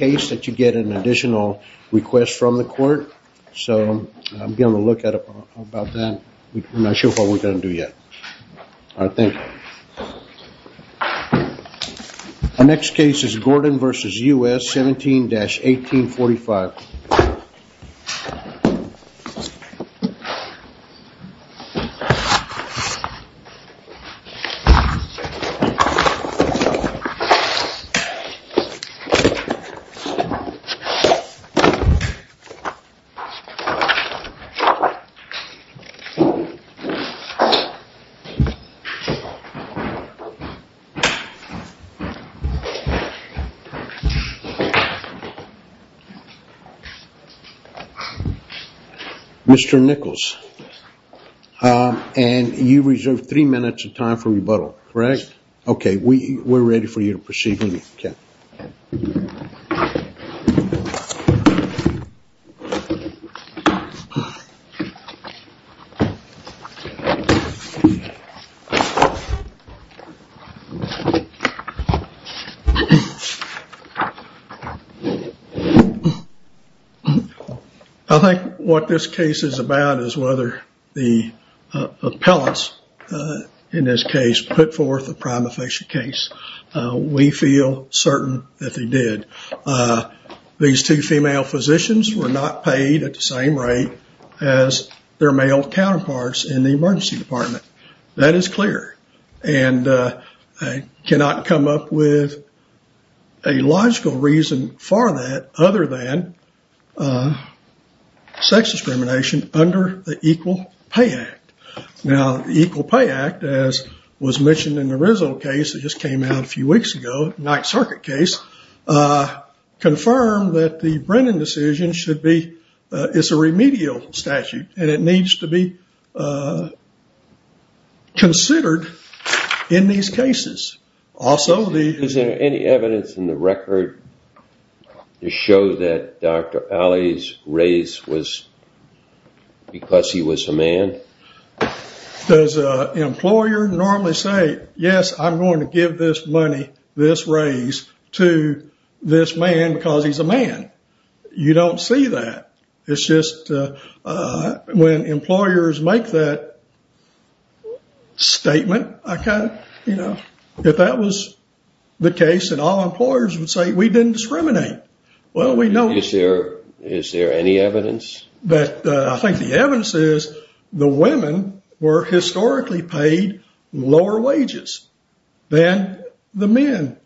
case that you get an additional request from the court, so I'm going to look at it about that. We're not sure what we're going to do yet. All right, thank you. Our next case is Gordon v. U.S. 17-1845. Mr. Nichols, and you reserve three minutes of time for rebuttal, correct? Okay, we're ready for you to proceed with it, Ken. I think what this case is about is whether the appellants in this case put forth a prima facie case. We feel certain that they did. These two female physicians were not paid at the same rate as their male counterparts in the emergency department. That is clear, and I cannot come up with a logical reason for that other than sex discrimination under the Equal Pay Act. Now, the Equal Pay Act, as was mentioned in the Rizzo case that just came out a few weeks ago, night circuit case, confirmed that the Brennan decision should be, it's a remedial statute, and it needs to be considered in these cases. Is there any evidence in the record to show that Dr. Alley's raise was because he was a man? Does an employer normally say, yes, I'm going to give this money, this raise, to this man because he's a man? You don't see that. It's just when employers make that statement, if that was the case, we didn't discriminate. Is there any evidence? I think the evidence is the women were historically paid lower wages than the men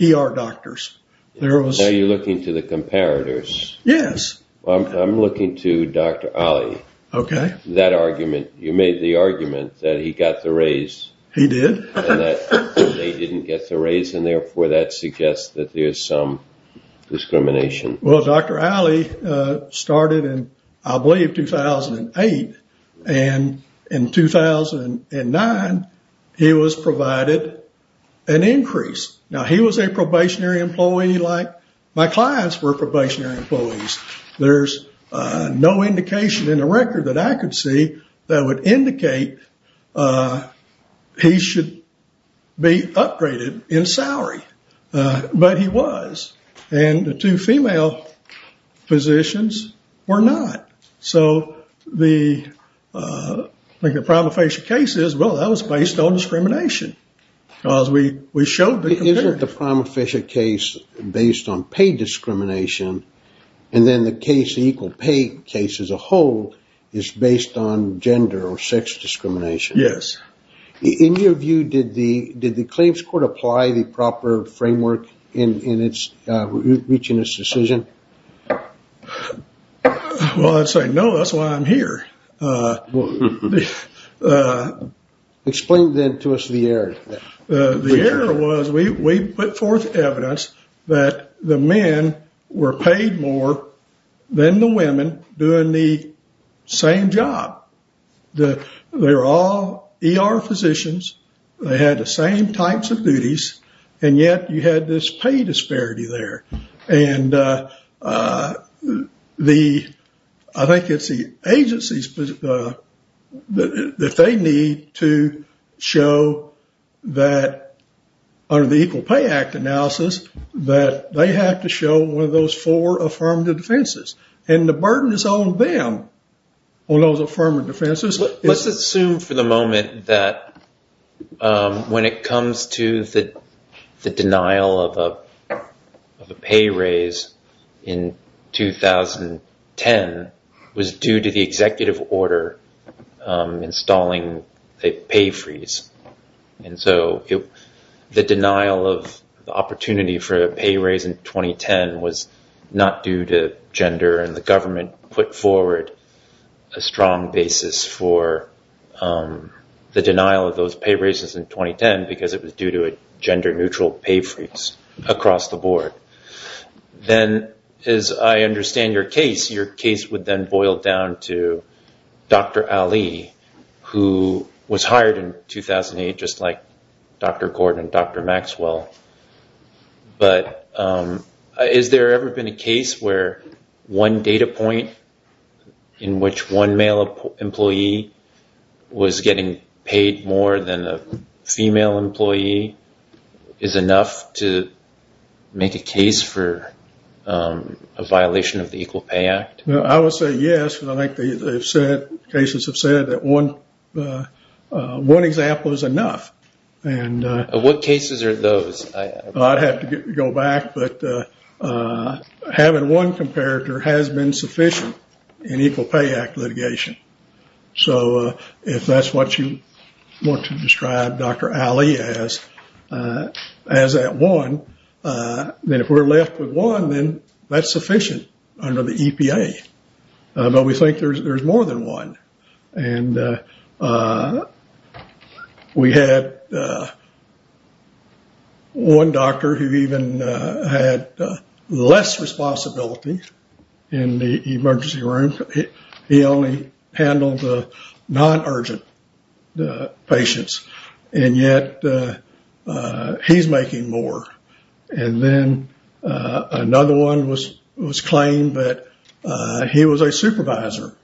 ER doctors. Are you looking to the comparators? Yes. I'm looking to Dr. Alley. You made the argument that he got the raise. He did. They didn't get the raise, and therefore, that suggests that there's some discrimination. Well, Dr. Alley started in, I believe, 2008. In 2009, he was provided an increase. Now, he was a probationary employee like my clients were probationary employees. There's no indication in the record that I could see that would indicate he should be upgraded in salary, but he was. The two female physicians were not. I think the prima facie case is, well, that was based on discrimination because we showed the comparator. Isn't the prima facie case based on paid discrimination, and then the case equal case as a whole is based on gender or sex discrimination? Yes. In your view, did the claims court apply the proper framework in reaching this decision? Well, I'd say no. That's why I'm here. Explain then to us the error. The error was we put forth evidence that the men were paid more than the women doing the same job. They're all ER physicians. They had the same types of duties, and yet you had this pay disparity there. I think it's the agencies that they need to show that under the Equal Pay Act analysis that they have to show one of those four affirmative defenses, and the burden is on them on those affirmative defenses. Let's assume for the moment that when it comes to the denial of a pay raise in 2010 was due to the executive order installing a pay freeze. The denial of the opportunity for a pay raise in 2010 was not due to gender and the government put forward a strong basis for the denial of those pay raises in 2010 because it was due to a gender neutral pay freeze across the board. Then as I understand your case, your case would then boil down to Dr. Ali who was hired in 2008 just like Dr. Gordon and Dr. Maxwell. Is there ever been a case where one data point in which one male employee was getting paid more than a female employee is enough to make a case for a violation of the Equal Pay Act? I would say yes. I think they've said, cases have said that one example is enough. What cases are those? I'd have to go back, but having one comparator has been sufficient in Equal Pay Act litigation. So if that's what you want to describe Dr. Ali as, as that one, then if we're left with one, that's sufficient under the EPA, but we think there's more than one. We had one doctor who even had less responsibility in the emergency room. He only handled the non-urgent patients, and yet he's making more. And then another one was claimed that he was a supervisor.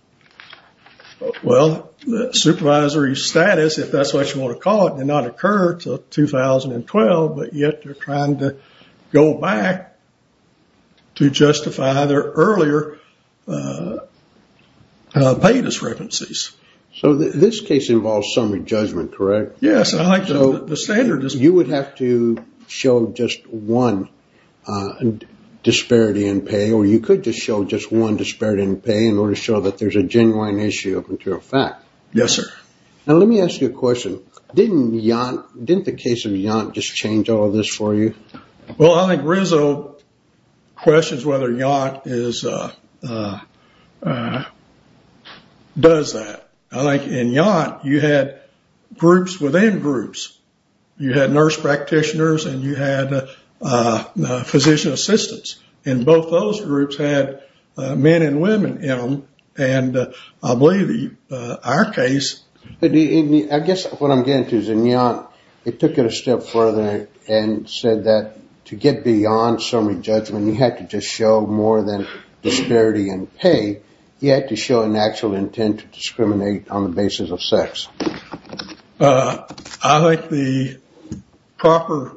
Well, the supervisory status, if that's what you want to call it, did not occur until 2012, but yet they're trying to go back to justify their earlier pay discrepancies. So this case involves summary judgment, correct? Yes. You would have to show just one disparity in pay, or you could just show just one disparity in pay in order to show that there's a genuine issue up until fact. Yes, sir. Now let me ask you a question. Didn't the case of Yant just change all of this for you? Well, I think Rizzo questions whether Yant does that. I think in Yant you had groups within groups. You had nurse practitioners, and you had physician assistants, and both those groups had men and women in them, and I believe in our case... I guess what I'm getting to is in Yant, they took it a step further and said that to get beyond summary judgment, you had to just show more than disparity in pay. You had to show an actual intent to discriminate on the basis of sex. I think the proper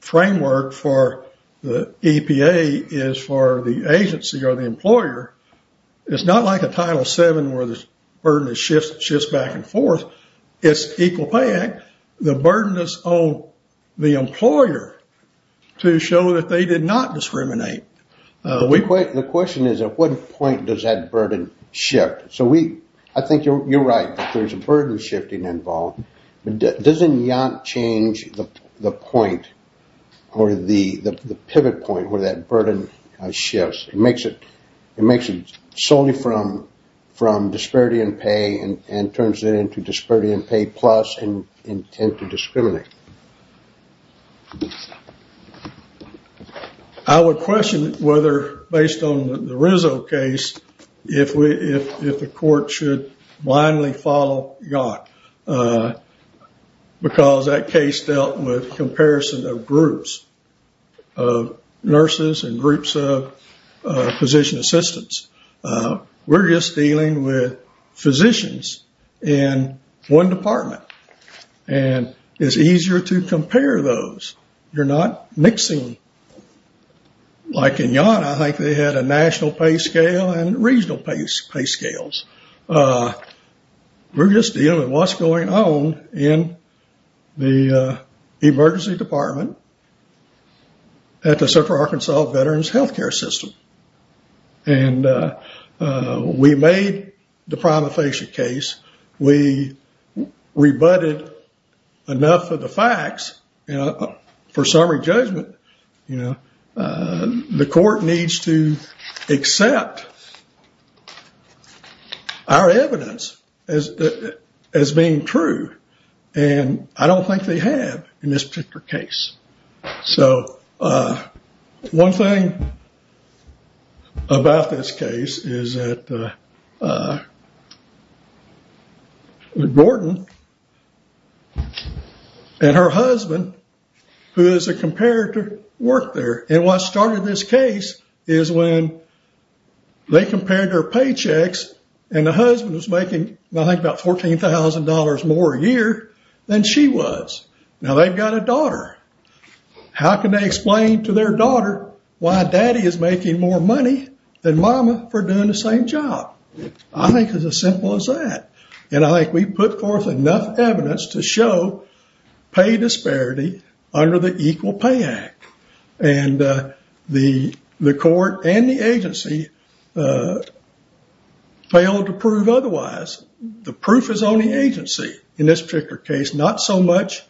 framework for the EPA is for the agency or the employer. It's not like a Title VII where the burden shifts back and forth. It's equal pay. The burden is on the employer to show that they did not discriminate. The question is at what point does that burden shift? I think you're right that there's a burden shifting involved, but doesn't Yant change the point or the pivot point where that burden shifts? It makes it solely from disparity in pay and turns it into disparity in pay plus and intent to discriminate. I would question whether based on the Rizzo case, if the court should blindly follow Yant because that case dealt with comparison of groups of nurses and groups of physician assistants. We're just dealing with physicians in one department and it's easier to compare those. You're not mixing. Like in Yant, I think they had a national pay scale and regional pay scales. We're just dealing with what's going on in the emergency department at the Central Arkansas Veterans Healthcare System. We made the Prima Facie case. We rebutted enough of the facts for summary judgment. The court needs to accept our evidence as being true. I don't think they have in this particular case. One thing about this case is that Gordon and her husband, who is a comparator, worked there. What started this case is when they compared their paychecks and the husband was making, I think, about $14,000 more a year than she was. Now they've got a daughter. How can they explain to their daughter why daddy is making more money than mama for doing the same job? I think it's as simple as that. I think we put forth enough evidence to show pay disparity under the Equal Pay Act. The court and the agency failed to prove otherwise. The proof is on the agency in this particular case, not so much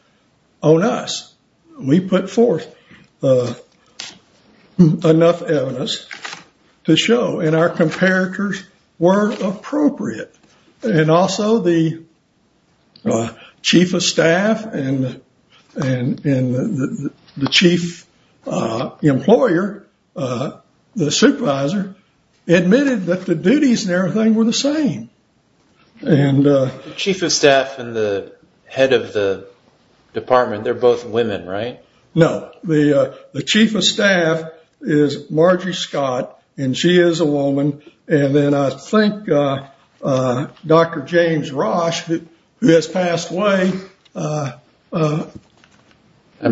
on us. We put forth enough evidence to show and our comparators were appropriate. Also, the chief employer, the supervisor, admitted that the duties and everything were the same. The chief of staff and the head of the department, they're both women, right? No. The chief of staff is Margie Scott and she is a woman. I think Dr. James Roche, who has passed away, was a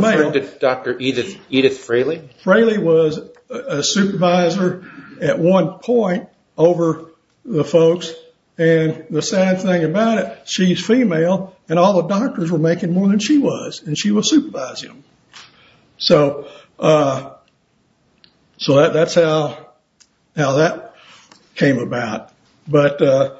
male. Dr. Edith Fraley? Fraley was a supervisor at one point over the folks. The sad thing about it, she's female and all the doctors were making more than she was. She was supervising them. So that's how that came about. I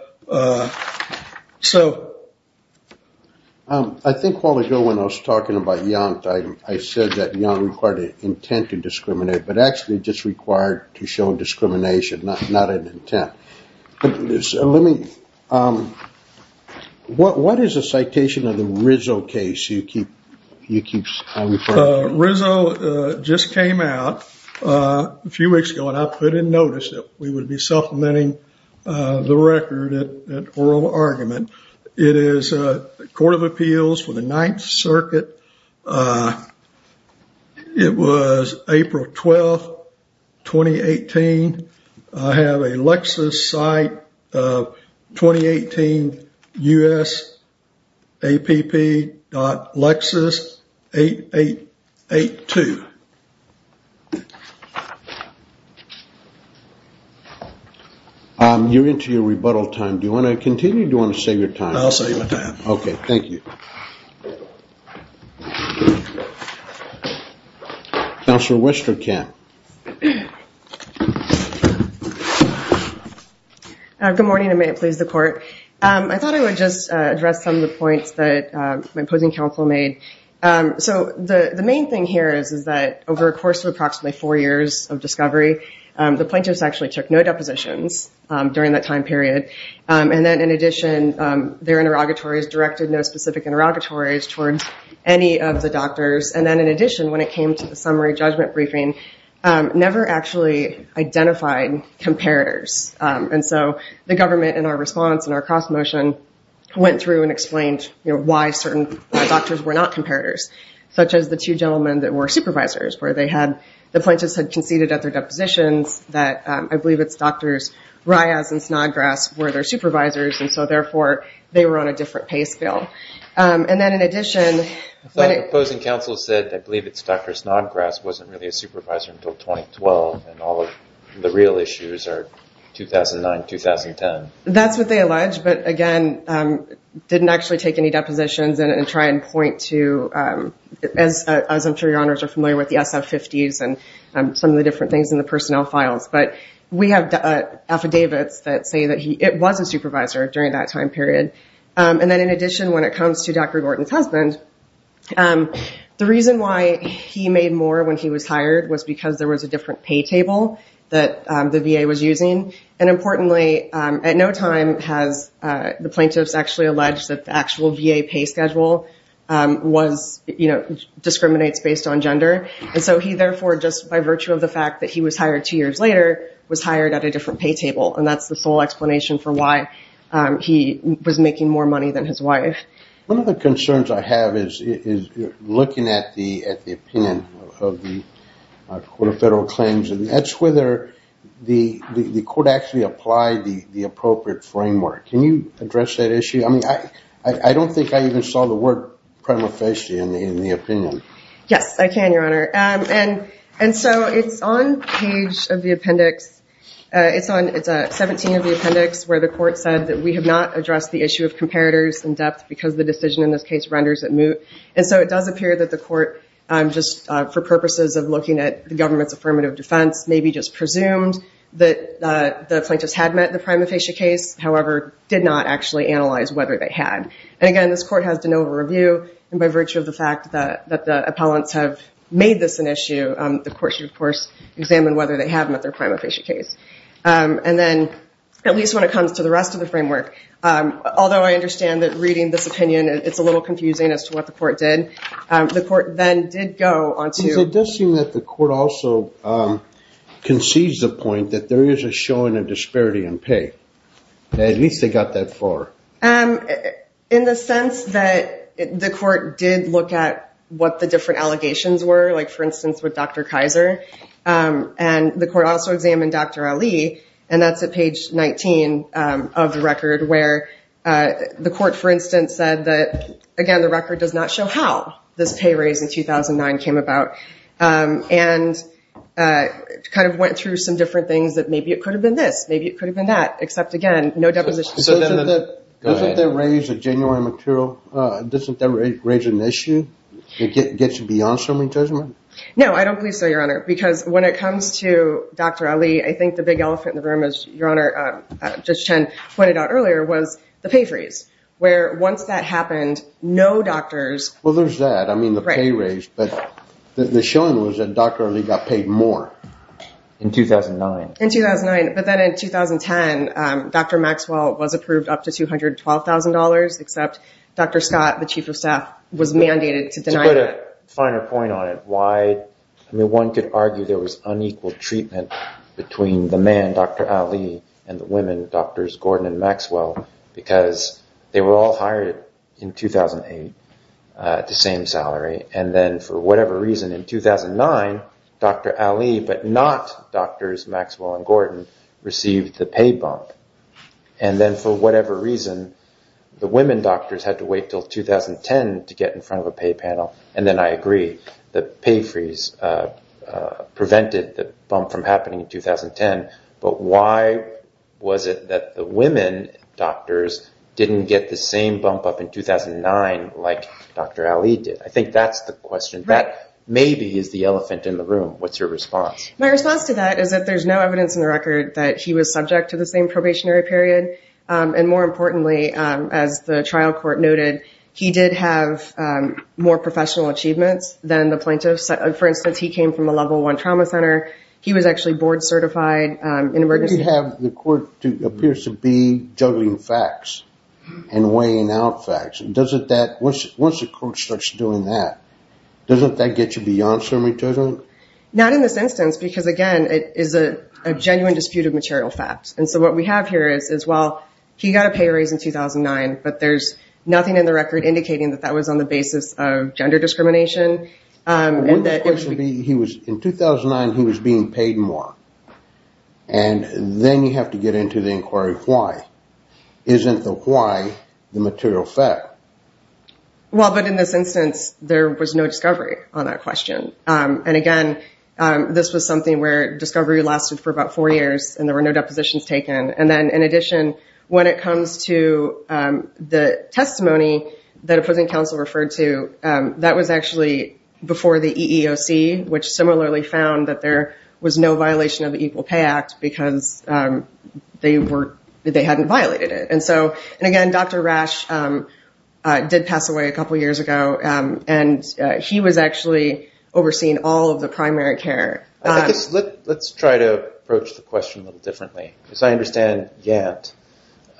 think a while ago when I was talking about Yont, I said that Yont required an intent to discriminate, but actually just required to show discrimination, not an intent. What is the citation of the Rizzo case? Rizzo just came out a few weeks ago and I put in notice that we would be supplementing the record at oral argument. It is a court of appeals for the Ninth Circuit. It was April 12th, 2018. I have a Lexus site of 2018USAPP.Lexus8882. You're into your rebuttal time. Do you want to continue or do you want to save your time? I'll save my time. Okay. Thank you. Counselor Wisterkamp? Good morning and may it please the court. I thought I would just address some of the points that my opposing counsel made. The main thing here is that over a course of approximately four years of discovery, the plaintiffs actually took no depositions during that time period. And then in addition, their interrogatories directed no specific interrogatories towards any of the doctors. And then in addition, when it came to the summary judgment briefing, never actually identified comparators. And so the government, in our response, in our cross motion, went through and explained why certain doctors were not comparators, such as the two gentlemen that were supervisors, where the plaintiffs had conceded at their supervisors. And so therefore, they were on a different pace bill. And then in addition... I thought the opposing counsel said, I believe it's Dr. Snodgrass, wasn't really a supervisor until 2012 and all of the real issues are 2009, 2010. That's what they alleged. But again, didn't actually take any depositions and try and point to, as I'm sure your honors are familiar with, the SF50s and some of the different things in it was a supervisor during that time period. And then in addition, when it comes to Dr. Gordon's husband, the reason why he made more when he was hired was because there was a different pay table that the VA was using. And importantly, at no time has the plaintiffs actually alleged that the actual VA pay schedule discriminates based on gender. And so he therefore, just by virtue of the fact that he was hired two years later, was hired at a different pay table. And that's the sole explanation for why he was making more money than his wife. One of the concerns I have is looking at the opinion of the Court of Federal Claims and that's whether the court actually applied the appropriate framework. Can you address that issue? I don't think I even saw the word prima facie in the opinion. Yes, I can, your honor. And so it's on page of the appendix. It's 17 of the appendix where the court said that we have not addressed the issue of comparators in depth because the decision in this case renders it moot. And so it does appear that the court, just for purposes of looking at the government's affirmative defense, maybe just presumed that the plaintiffs had met the prima facie case, however, did not actually analyze whether they had. And again, this court has no review. And by virtue of the fact that the appellants have made this an issue, the court should, of course, examine whether they have met their prima facie case. And then, at least when it comes to the rest of the framework, although I understand that reading this opinion, it's a little confusing as to what the court did. The court then did go on to. It does seem that the court also concedes the point that there is a showing of disparity in pay. At least they got that far. In the sense that the court did look at what the different allegations were, like, for instance, with Dr. Kaiser. And the court also examined Dr. Ali. And that's at page 19 of the record where the court, for instance, said that, again, the record does not show how this pay raise in 2009 came about. And kind of went through some different things that maybe it could have been that. Except, again, no deposition. Doesn't that raise a genuine issue? No, I don't believe so, Your Honor. Because when it comes to Dr. Ali, I think the big elephant in the room is, Your Honor, Judge Chen pointed out earlier, was the pay freeze. Where once that happened, no doctors. Well, there's that. I mean, the pay raise. But the showing was that Dr. Ali got paid more. In 2009. In 2009. But then in 2010, Dr. Maxwell was approved up to $212,000, except Dr. Scott, the chief of staff, was mandated to deny that. To put a finer point on it. Why? I mean, one could argue there was unequal treatment between the man, Dr. Ali, and the women, Drs. Gordon and Maxwell, because they were all hired in 2008 at the same salary. And then, for whatever reason, in 2009, Dr. Ali, but not Drs. Maxwell and Gordon, received the pay bump. And then, for whatever reason, the women doctors had to wait until 2010 to get in front of a pay panel. And then I agree. The pay freeze prevented the bump from happening in 2010. But why was it that the women doctors didn't get the same bump up in 2009 like Dr. Ali did? I think that's the question. That, maybe, is the elephant in the room. What's your response? My response to that is that there's no evidence in the record that he was subject to the same probationary period. And more importantly, as the trial court noted, he did have more professional achievements than the plaintiffs. For instance, he came from a level one trauma center. He was actually board certified in emergency. You have the court appears to be juggling facts and weighing out facts. Doesn't that, once the court starts doing that, doesn't that get you beyond some return? Not in this instance because, again, it is a genuine dispute of material facts. And so, what we have here is, well, he got a pay raise in 2009, but there's nothing in the record indicating that that was on the basis of gender discrimination. In 2009, he was being paid more. And then you have to get into the inquiry, why? Isn't the why the material fact? Well, but in this instance, there was no discovery on that question. And again, this was something where discovery lasted for about four years and there were no depositions taken. And then, in addition, when it comes to the testimony that opposing counsel referred to, that was actually before the EEOC, which similarly found that there was no violation of the Equal Pay Act because they hadn't violated it. And so, and again, Dr. Rash did pass away a couple of years ago and he was actually overseeing all of the primary care. Let's try to approach the question a little differently because I understand Yant,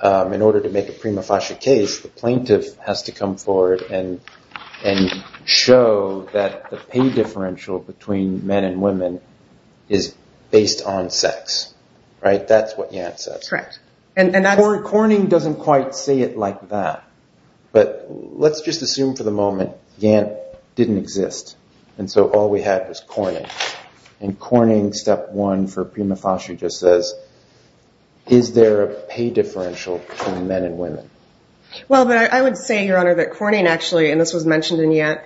in order to make a Prima Fascia case, the plaintiff has to come forward and show that the pay differential between men and women is based on sex, right? That's what Yant says. Correct. Corning doesn't quite say it like that, but let's just assume for the moment Yant didn't exist. And so, all we had was Corning. And Corning step one for Prima Fascia just says, is there a pay differential between men and women? Well, I would say, Your Honor, that Corning actually, and this was mentioned in Yant,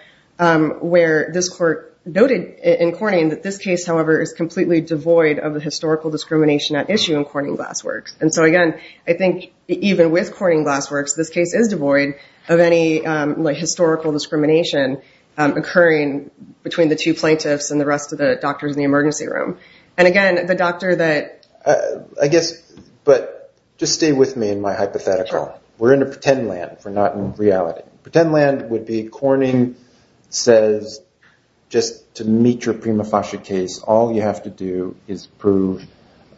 where this court noted in Corning that this case, however, is completely devoid of the historical discrimination at issue in Corning Glassworks. And so, again, I think even with Corning Glassworks, this case is devoid of any historical discrimination occurring between the two plaintiffs and the rest of the doctors in the emergency room. And again, the doctor that- I guess, but just stay with me in my hypothetical. We're in a pretend land. We're not in reality. Pretend land would be Corning says, just to meet your Prima Fascia case, all you have to do is prove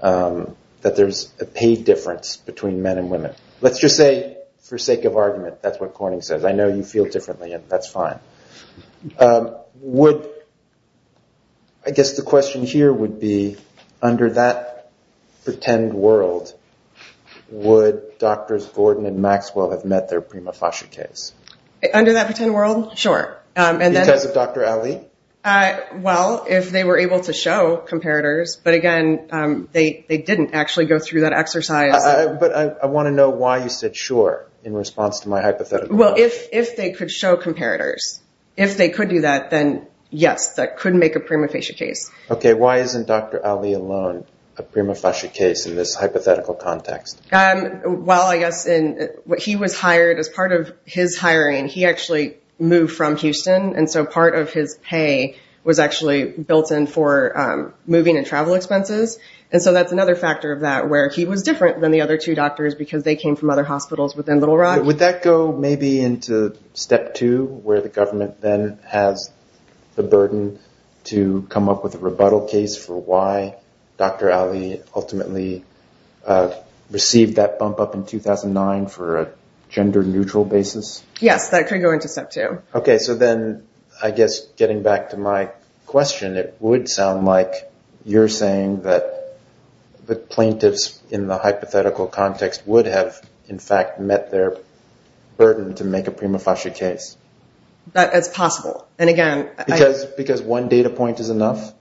that there's a pay difference between men and women. Let's just say, for sake of argument, that's what Corning says. I know you feel differently and that's fine. I guess the question here would be, under that pretend world, would Doctors Gordon and Maxwell have met their Prima Fascia case? Under that pretend world? Sure. Because of Dr. Ali? Well, if they were able to show comparators, but again, they didn't actually go through that exercise. But I want to know why you said, sure, in response to my hypothetical. Well, if they could show comparators, if they could do that, then yes, that could make a Prima Fascia case. Okay. Why isn't Dr. Ali alone a Prima Fascia case in this hypothetical context? Well, I guess he was hired as part of his hiring. He actually moved from Houston. And so, part of his pay was actually built in for moving and travel expenses. And so, that's another factor of that where he was different than the other two doctors because they came from other hospitals within Little Rock. Would that go maybe into step two, where the government then has the burden to come up with a rebuttal case for why Dr. Ali ultimately received that bump up in 2009 for a gender neutral basis? Yes, that could go into step two. Okay. So then, I guess getting back to my question, it would sound like you're saying that the plaintiffs in the hypothetical context would have in fact met their burden to make a Prima Fascia case. It's possible. And again- Because one data point is enough?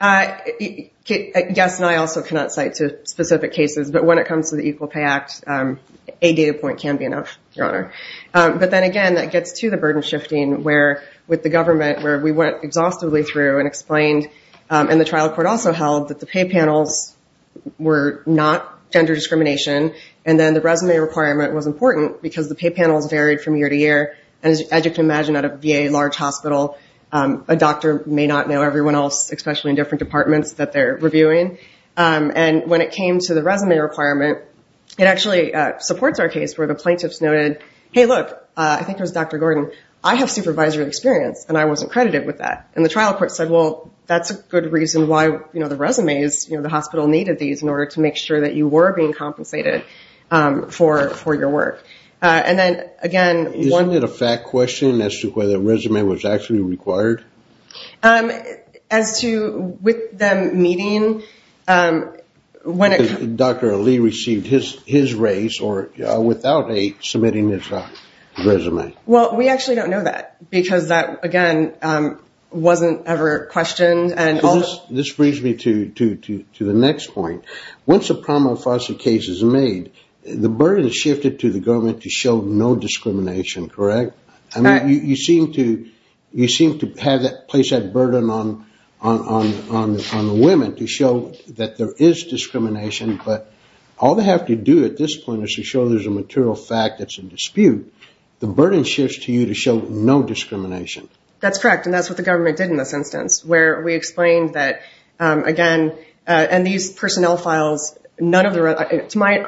Yes. And I also cannot cite to specific cases, but when it comes to the Equal Pay Act, a data point can be enough, Your Honor. But then again, that gets to the burden shifting where with the government, where we went exhaustively through and explained, and the trial court also held that the pay panels were not gender discrimination. And then the resume requirement was important because the pay panels varied from year to year. And as you can imagine at a VA large hospital, a doctor may not know everyone else, especially in different departments that they're reviewing. And when it came to the resume requirement, it actually supports our case where the plaintiffs noted, hey, look, I think it was Dr. Gordon, I have supervisory experience and I wasn't credited with that. And the trial court said, well, that's a good reason why the resumes, the hospital needed these in order to make sure that you were being compensated for your work. And then again- Isn't it a fact question as to whether resume was actually required? Um, as to with them meeting, um, when it- Dr. Lee received his, his race or without a submitting his resume. Well, we actually don't know that because that again, um, wasn't ever questioned and- This brings me to, to, to, to the next point. Once a promo foster case is made, the burden is shifted to the government to show no discrimination, correct? I mean, you, you seem to, you seem to have that place, that burden on, on, on, on the women to show that there is discrimination, but all they have to do at this point is to show there's a material fact that's in dispute. The burden shifts to you to show no discrimination. That's correct. And that's what the government did in this instance, where we explained that, um, again, uh, and these personnel files, none of the, to my,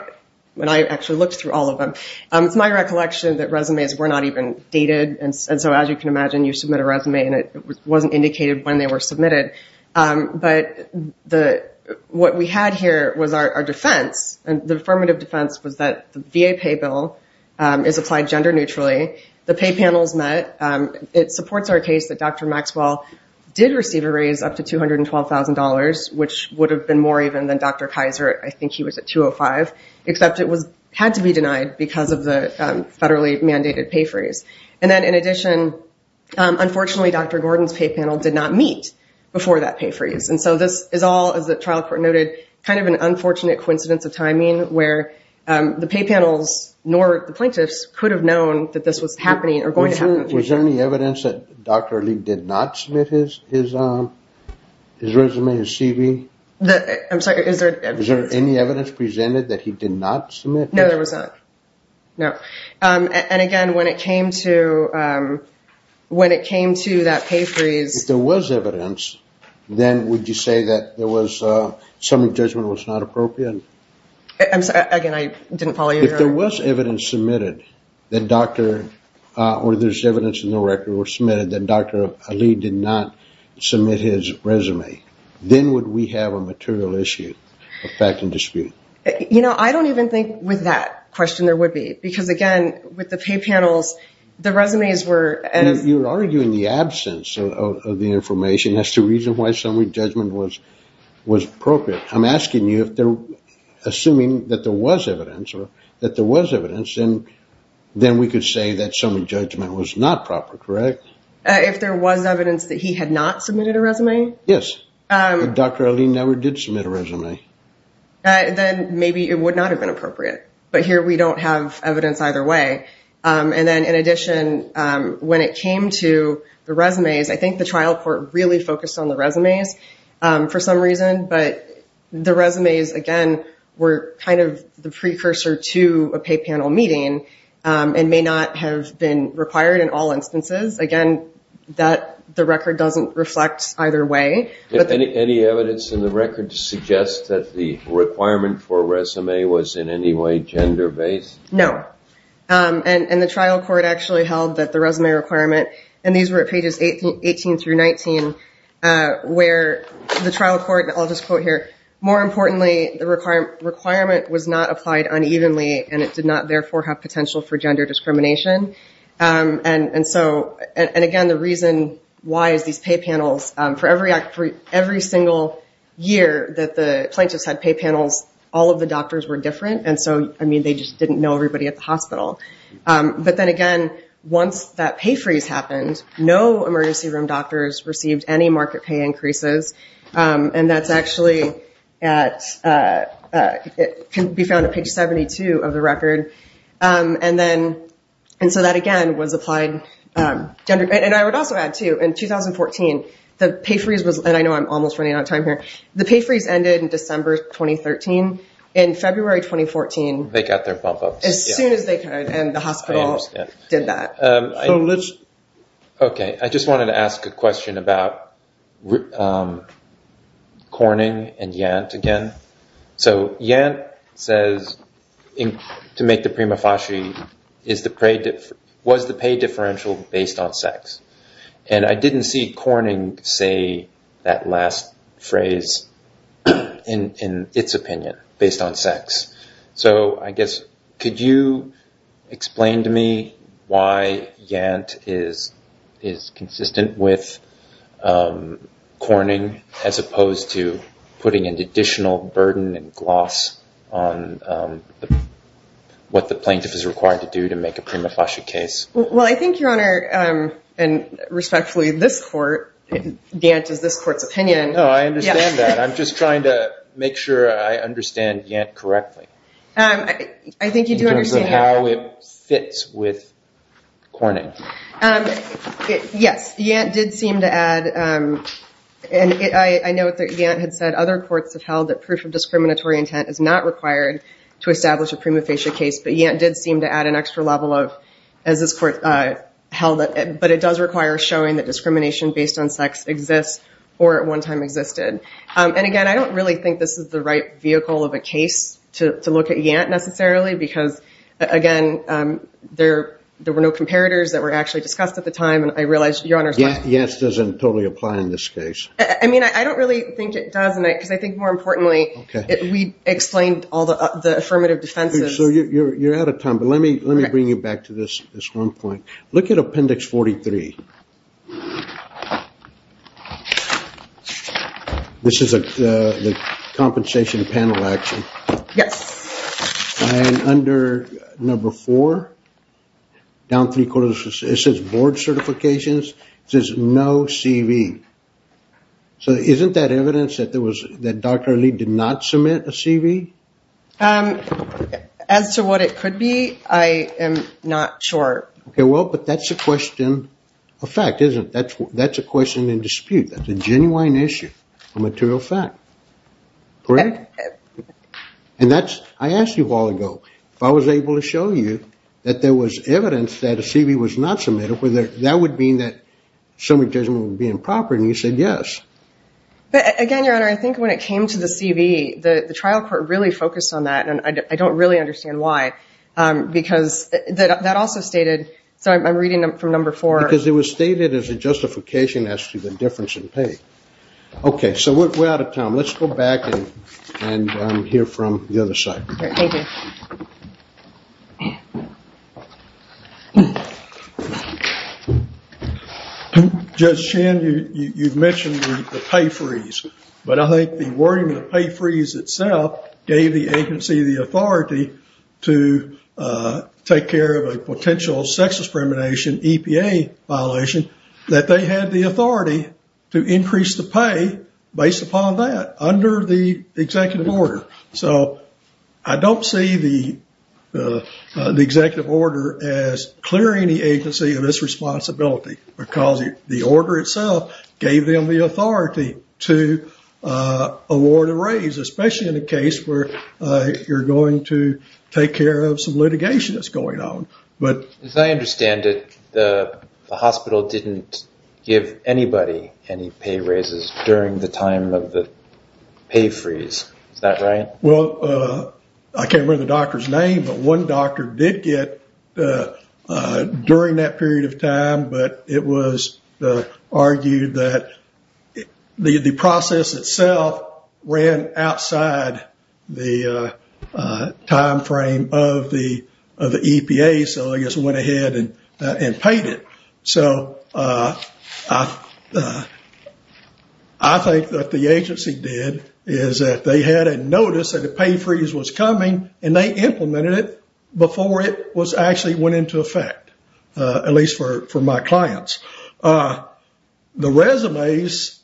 when I actually looked through all of them, um, it's my recollection that resumes were not even dated. And so as you can imagine, you submit a resume and it wasn't indicated when they were submitted. Um, but the, what we had here was our, our defense and the affirmative defense was that the VA pay bill, um, is applied gender neutrally. The pay panels met, um, it supports our case that Dr. Maxwell did receive a raise up to $212,000, which would have been more even than Dr. Kaiser. I think he was at 205, except it was, had to be denied because of the, um, federally mandated pay freeze. And then in addition, um, unfortunately Dr. Gordon's pay panel did not meet before that pay freeze. And so this is all, as the trial court noted, kind of an unfortunate coincidence of timing where, um, the pay panels, nor the plaintiffs could have known that this was happening or going to happen. Was there any evidence that Dr. Lee did not submit his, his, um, his resume, his CV? The, I'm sorry, is there, is there any evidence presented that he did not submit? No, there was not. No. Um, and again, when it came to, um, when it came to that pay freeze... If there was evidence, then would you say that there was, uh, some judgment was not appropriate? I'm sorry, again, I didn't follow you. If there was evidence submitted that Dr., uh, or there's evidence in the record were submitted that Dr. Lee did not submit his resume, with that question, there would be, because again, with the pay panels, the resumes were... And if you're arguing the absence of the information, that's the reason why summary judgment was, was appropriate. I'm asking you if they're assuming that there was evidence or that there was evidence, then, then we could say that summary judgment was not proper, correct? If there was evidence that he had not submitted a resume? Yes. Um... But Dr. Lee never did submit a resume. Uh, then maybe it would not have been appropriate, but here we don't have evidence either way. Um, and then in addition, um, when it came to the resumes, I think the trial court really focused on the resumes, um, for some reason, but the resumes, again, were kind of the precursor to a pay panel meeting, um, and may not have been required in all instances. Again, that the record doesn't reflect either way, but... Any evidence in the record to suggest that the requirement for resume was in any way gender based? No. Um, and, and the trial court actually held that the resume requirement, and these were at pages 18 through 19, uh, where the trial court, and I'll just quote here, more importantly, the requirement was not applied unevenly and it did not therefore have potential for gender discrimination. Um, and, and so, and again, the reason why is these pay panels, um, for every act, for every single year that the plaintiffs had pay panels, all of the doctors were different. And so, I mean, they just didn't know everybody at the hospital. Um, but then again, once that pay freeze happened, no emergency room doctors received any market pay increases. Um, and that's actually at, uh, uh, it can be found at page 72 of the record. Um, and then, and so that again was applied, um, gender. And I would also add too, in 2014, the pay freeze was, and I know I'm almost running out of time here, the pay freeze ended in December 2013. In February 2014... They got their bump ups. As soon as they could, and the hospital did that. So let's... Okay. I just wanted to ask a question about, um, Corning and Yant again. So Yant says, to make the prima facie, is the pay, was the pay differential based on sex? And I didn't see Corning say that last phrase in, in its opinion based on sex. So I guess, could you explain to me why Yant is, is consistent with, um, Corning as opposed to putting an additional burden and gloss on, um, what the plaintiff is required to do to make a prima facie case? Well, I think Your Honor, um, and respectfully this court, Yant is this court's opinion. No, I understand that. I'm just trying to make sure I understand Yant correctly. Um, I think you do understand... Fits with Corning. Yes. Yant did seem to add, um, and I know that Yant had said other courts have held that proof of discriminatory intent is not required to establish a prima facie case, but Yant did seem to add an extra level of, as this court, uh, held it, but it does require showing that discrimination based on sex exists or at one time existed. Um, and again, I don't really think this is the right vehicle of a case to, to look at Yant necessarily, because again, um, there, there were no comparators that were actually discussed at the time. And I realized Your Honor... Yant doesn't totally apply in this case. I mean, I don't really think it does. And I, cause I think more importantly, we explained all the, uh, the affirmative defenses. So you're, you're, you're out of time, but let me, let me bring you back to this, this one point. Look at appendix 43. This is a, uh, the compensation panel action. Yes. And under number four, down three quarters, it says board certifications, it says no CV. So isn't that evidence that there was, that Dr. Ali did not submit a CV? Um, as to what it could be, I am not sure. Okay. Well, but that's a question of fact, isn't it? That's, that's a question in dispute. That's a genuine issue, a material fact. Correct? And that's, I asked you a while ago, if I was able to show you that there was evidence that a CV was not submitted, whether that would mean that summary judgment would be improper. And you said, yes. But again, your Honor, I think when it came to the CV, the trial court really focused on that. And I don't really understand why, um, because that, that also stated, so I'm reading from number four. Because it was stated as a justification as to the difference in pay. Okay. So we're out of time. Let's go back and, and, um, hear from the other side. Thank you. Judge Chan, you, you, you've mentioned the pay freeze, but I think the wording of the pay freeze itself gave the agency the authority to, uh, take care of a potential sex discrimination, EPA violation, that they had the authority to increase the pay based upon that under the executive order. So I don't see the, uh, uh, the executive order as clearing the agency of this responsibility because the order itself gave them the authority to, uh, award a raise, especially in a case where, uh, you're going to take care of some litigation that's going on. But as I understand it, the hospital didn't give anybody any pay raises during the time of the pay freeze. Is that right? Well, uh, I can't remember the doctor's name, but one doctor did get, uh, uh, during that period of time, but it was, uh, argued that the, the process itself ran outside the, uh, uh, timeframe of the, of the EPA. So I guess it went ahead and, uh, and paid it. So, uh, uh, uh, I think that the agency did is that they had a notice that the pay freeze was coming and they implemented it before it was actually went into effect, uh, at least for, for my clients. Uh, the resumes,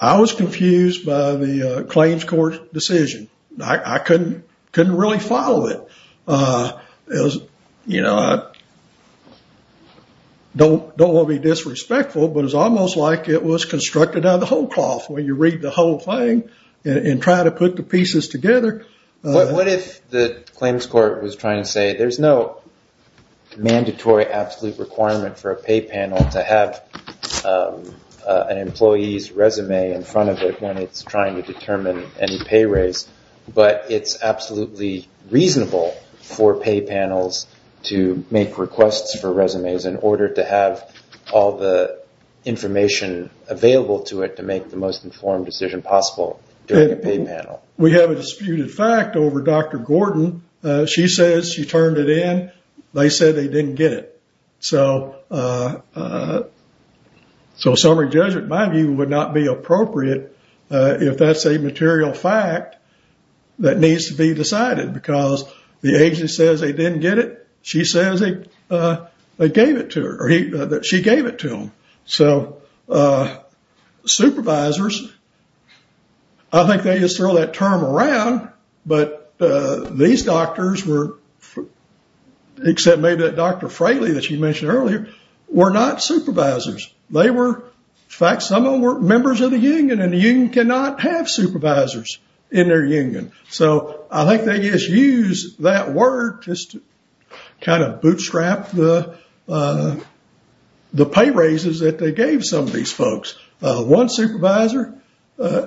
I was confused by the, uh, claims court decision. I couldn't, couldn't really follow it. Uh, it was, you know, I don't, don't want to be disrespectful, but it's almost like it was constructed out of the whole cloth where you read the whole thing and try to put the pieces together. What if the claims court was trying to say, there's no mandatory absolute requirement for a pay panel to have, um, uh, an employee's resume in front of it when it's trying to determine any pay raise, but it's absolutely reasonable for pay panels to make requests for resumes in order to have all the information available to it to make the most informed decision possible during a pay panel. We have a disputed fact over Dr. Gordon. Uh, she says she turned it in. They said they didn't get it. So, uh, uh, so summary judgment, in my view, would not be appropriate, uh, if that's a material fact that needs to be decided because the agent says they didn't get it. She says they, uh, they gave it to her or he, she gave it to him. So, uh, supervisors, I think they just throw that term around, but, uh, these doctors were, except maybe that Dr. Fraley that you mentioned earlier, were not supervisors. They were, in fact, some of them were members of the union and the union cannot have supervisors in their union. So I think they just use that word just to kind of bootstrap the, uh, the pay raises that they gave some of these folks. Uh, one supervisor, uh,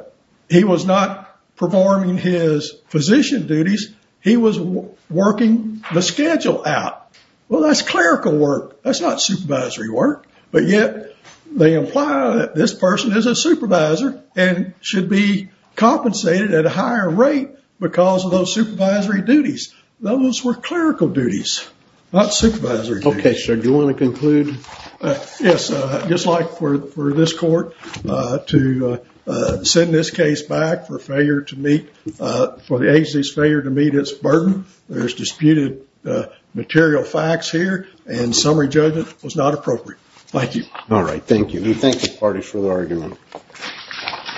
he was not performing his physician duties. He was working the schedule out. Well, that's clerical work. That's not supervisory work, but yet they imply that this person is a supervisor and should be compensated at a higher rate because of those supervisory duties. Those were clerical duties, not supervisory duties. Okay. So do you want to conclude? Yes. Uh, just like for, for this court, uh, to, uh, uh, send this case back for failure to meet, uh, for the agency's failure to meet its burden, there's disputed, uh, material facts here and summary judgment was not appropriate. Thank you. All right. Thank you. We thank the party for the argument.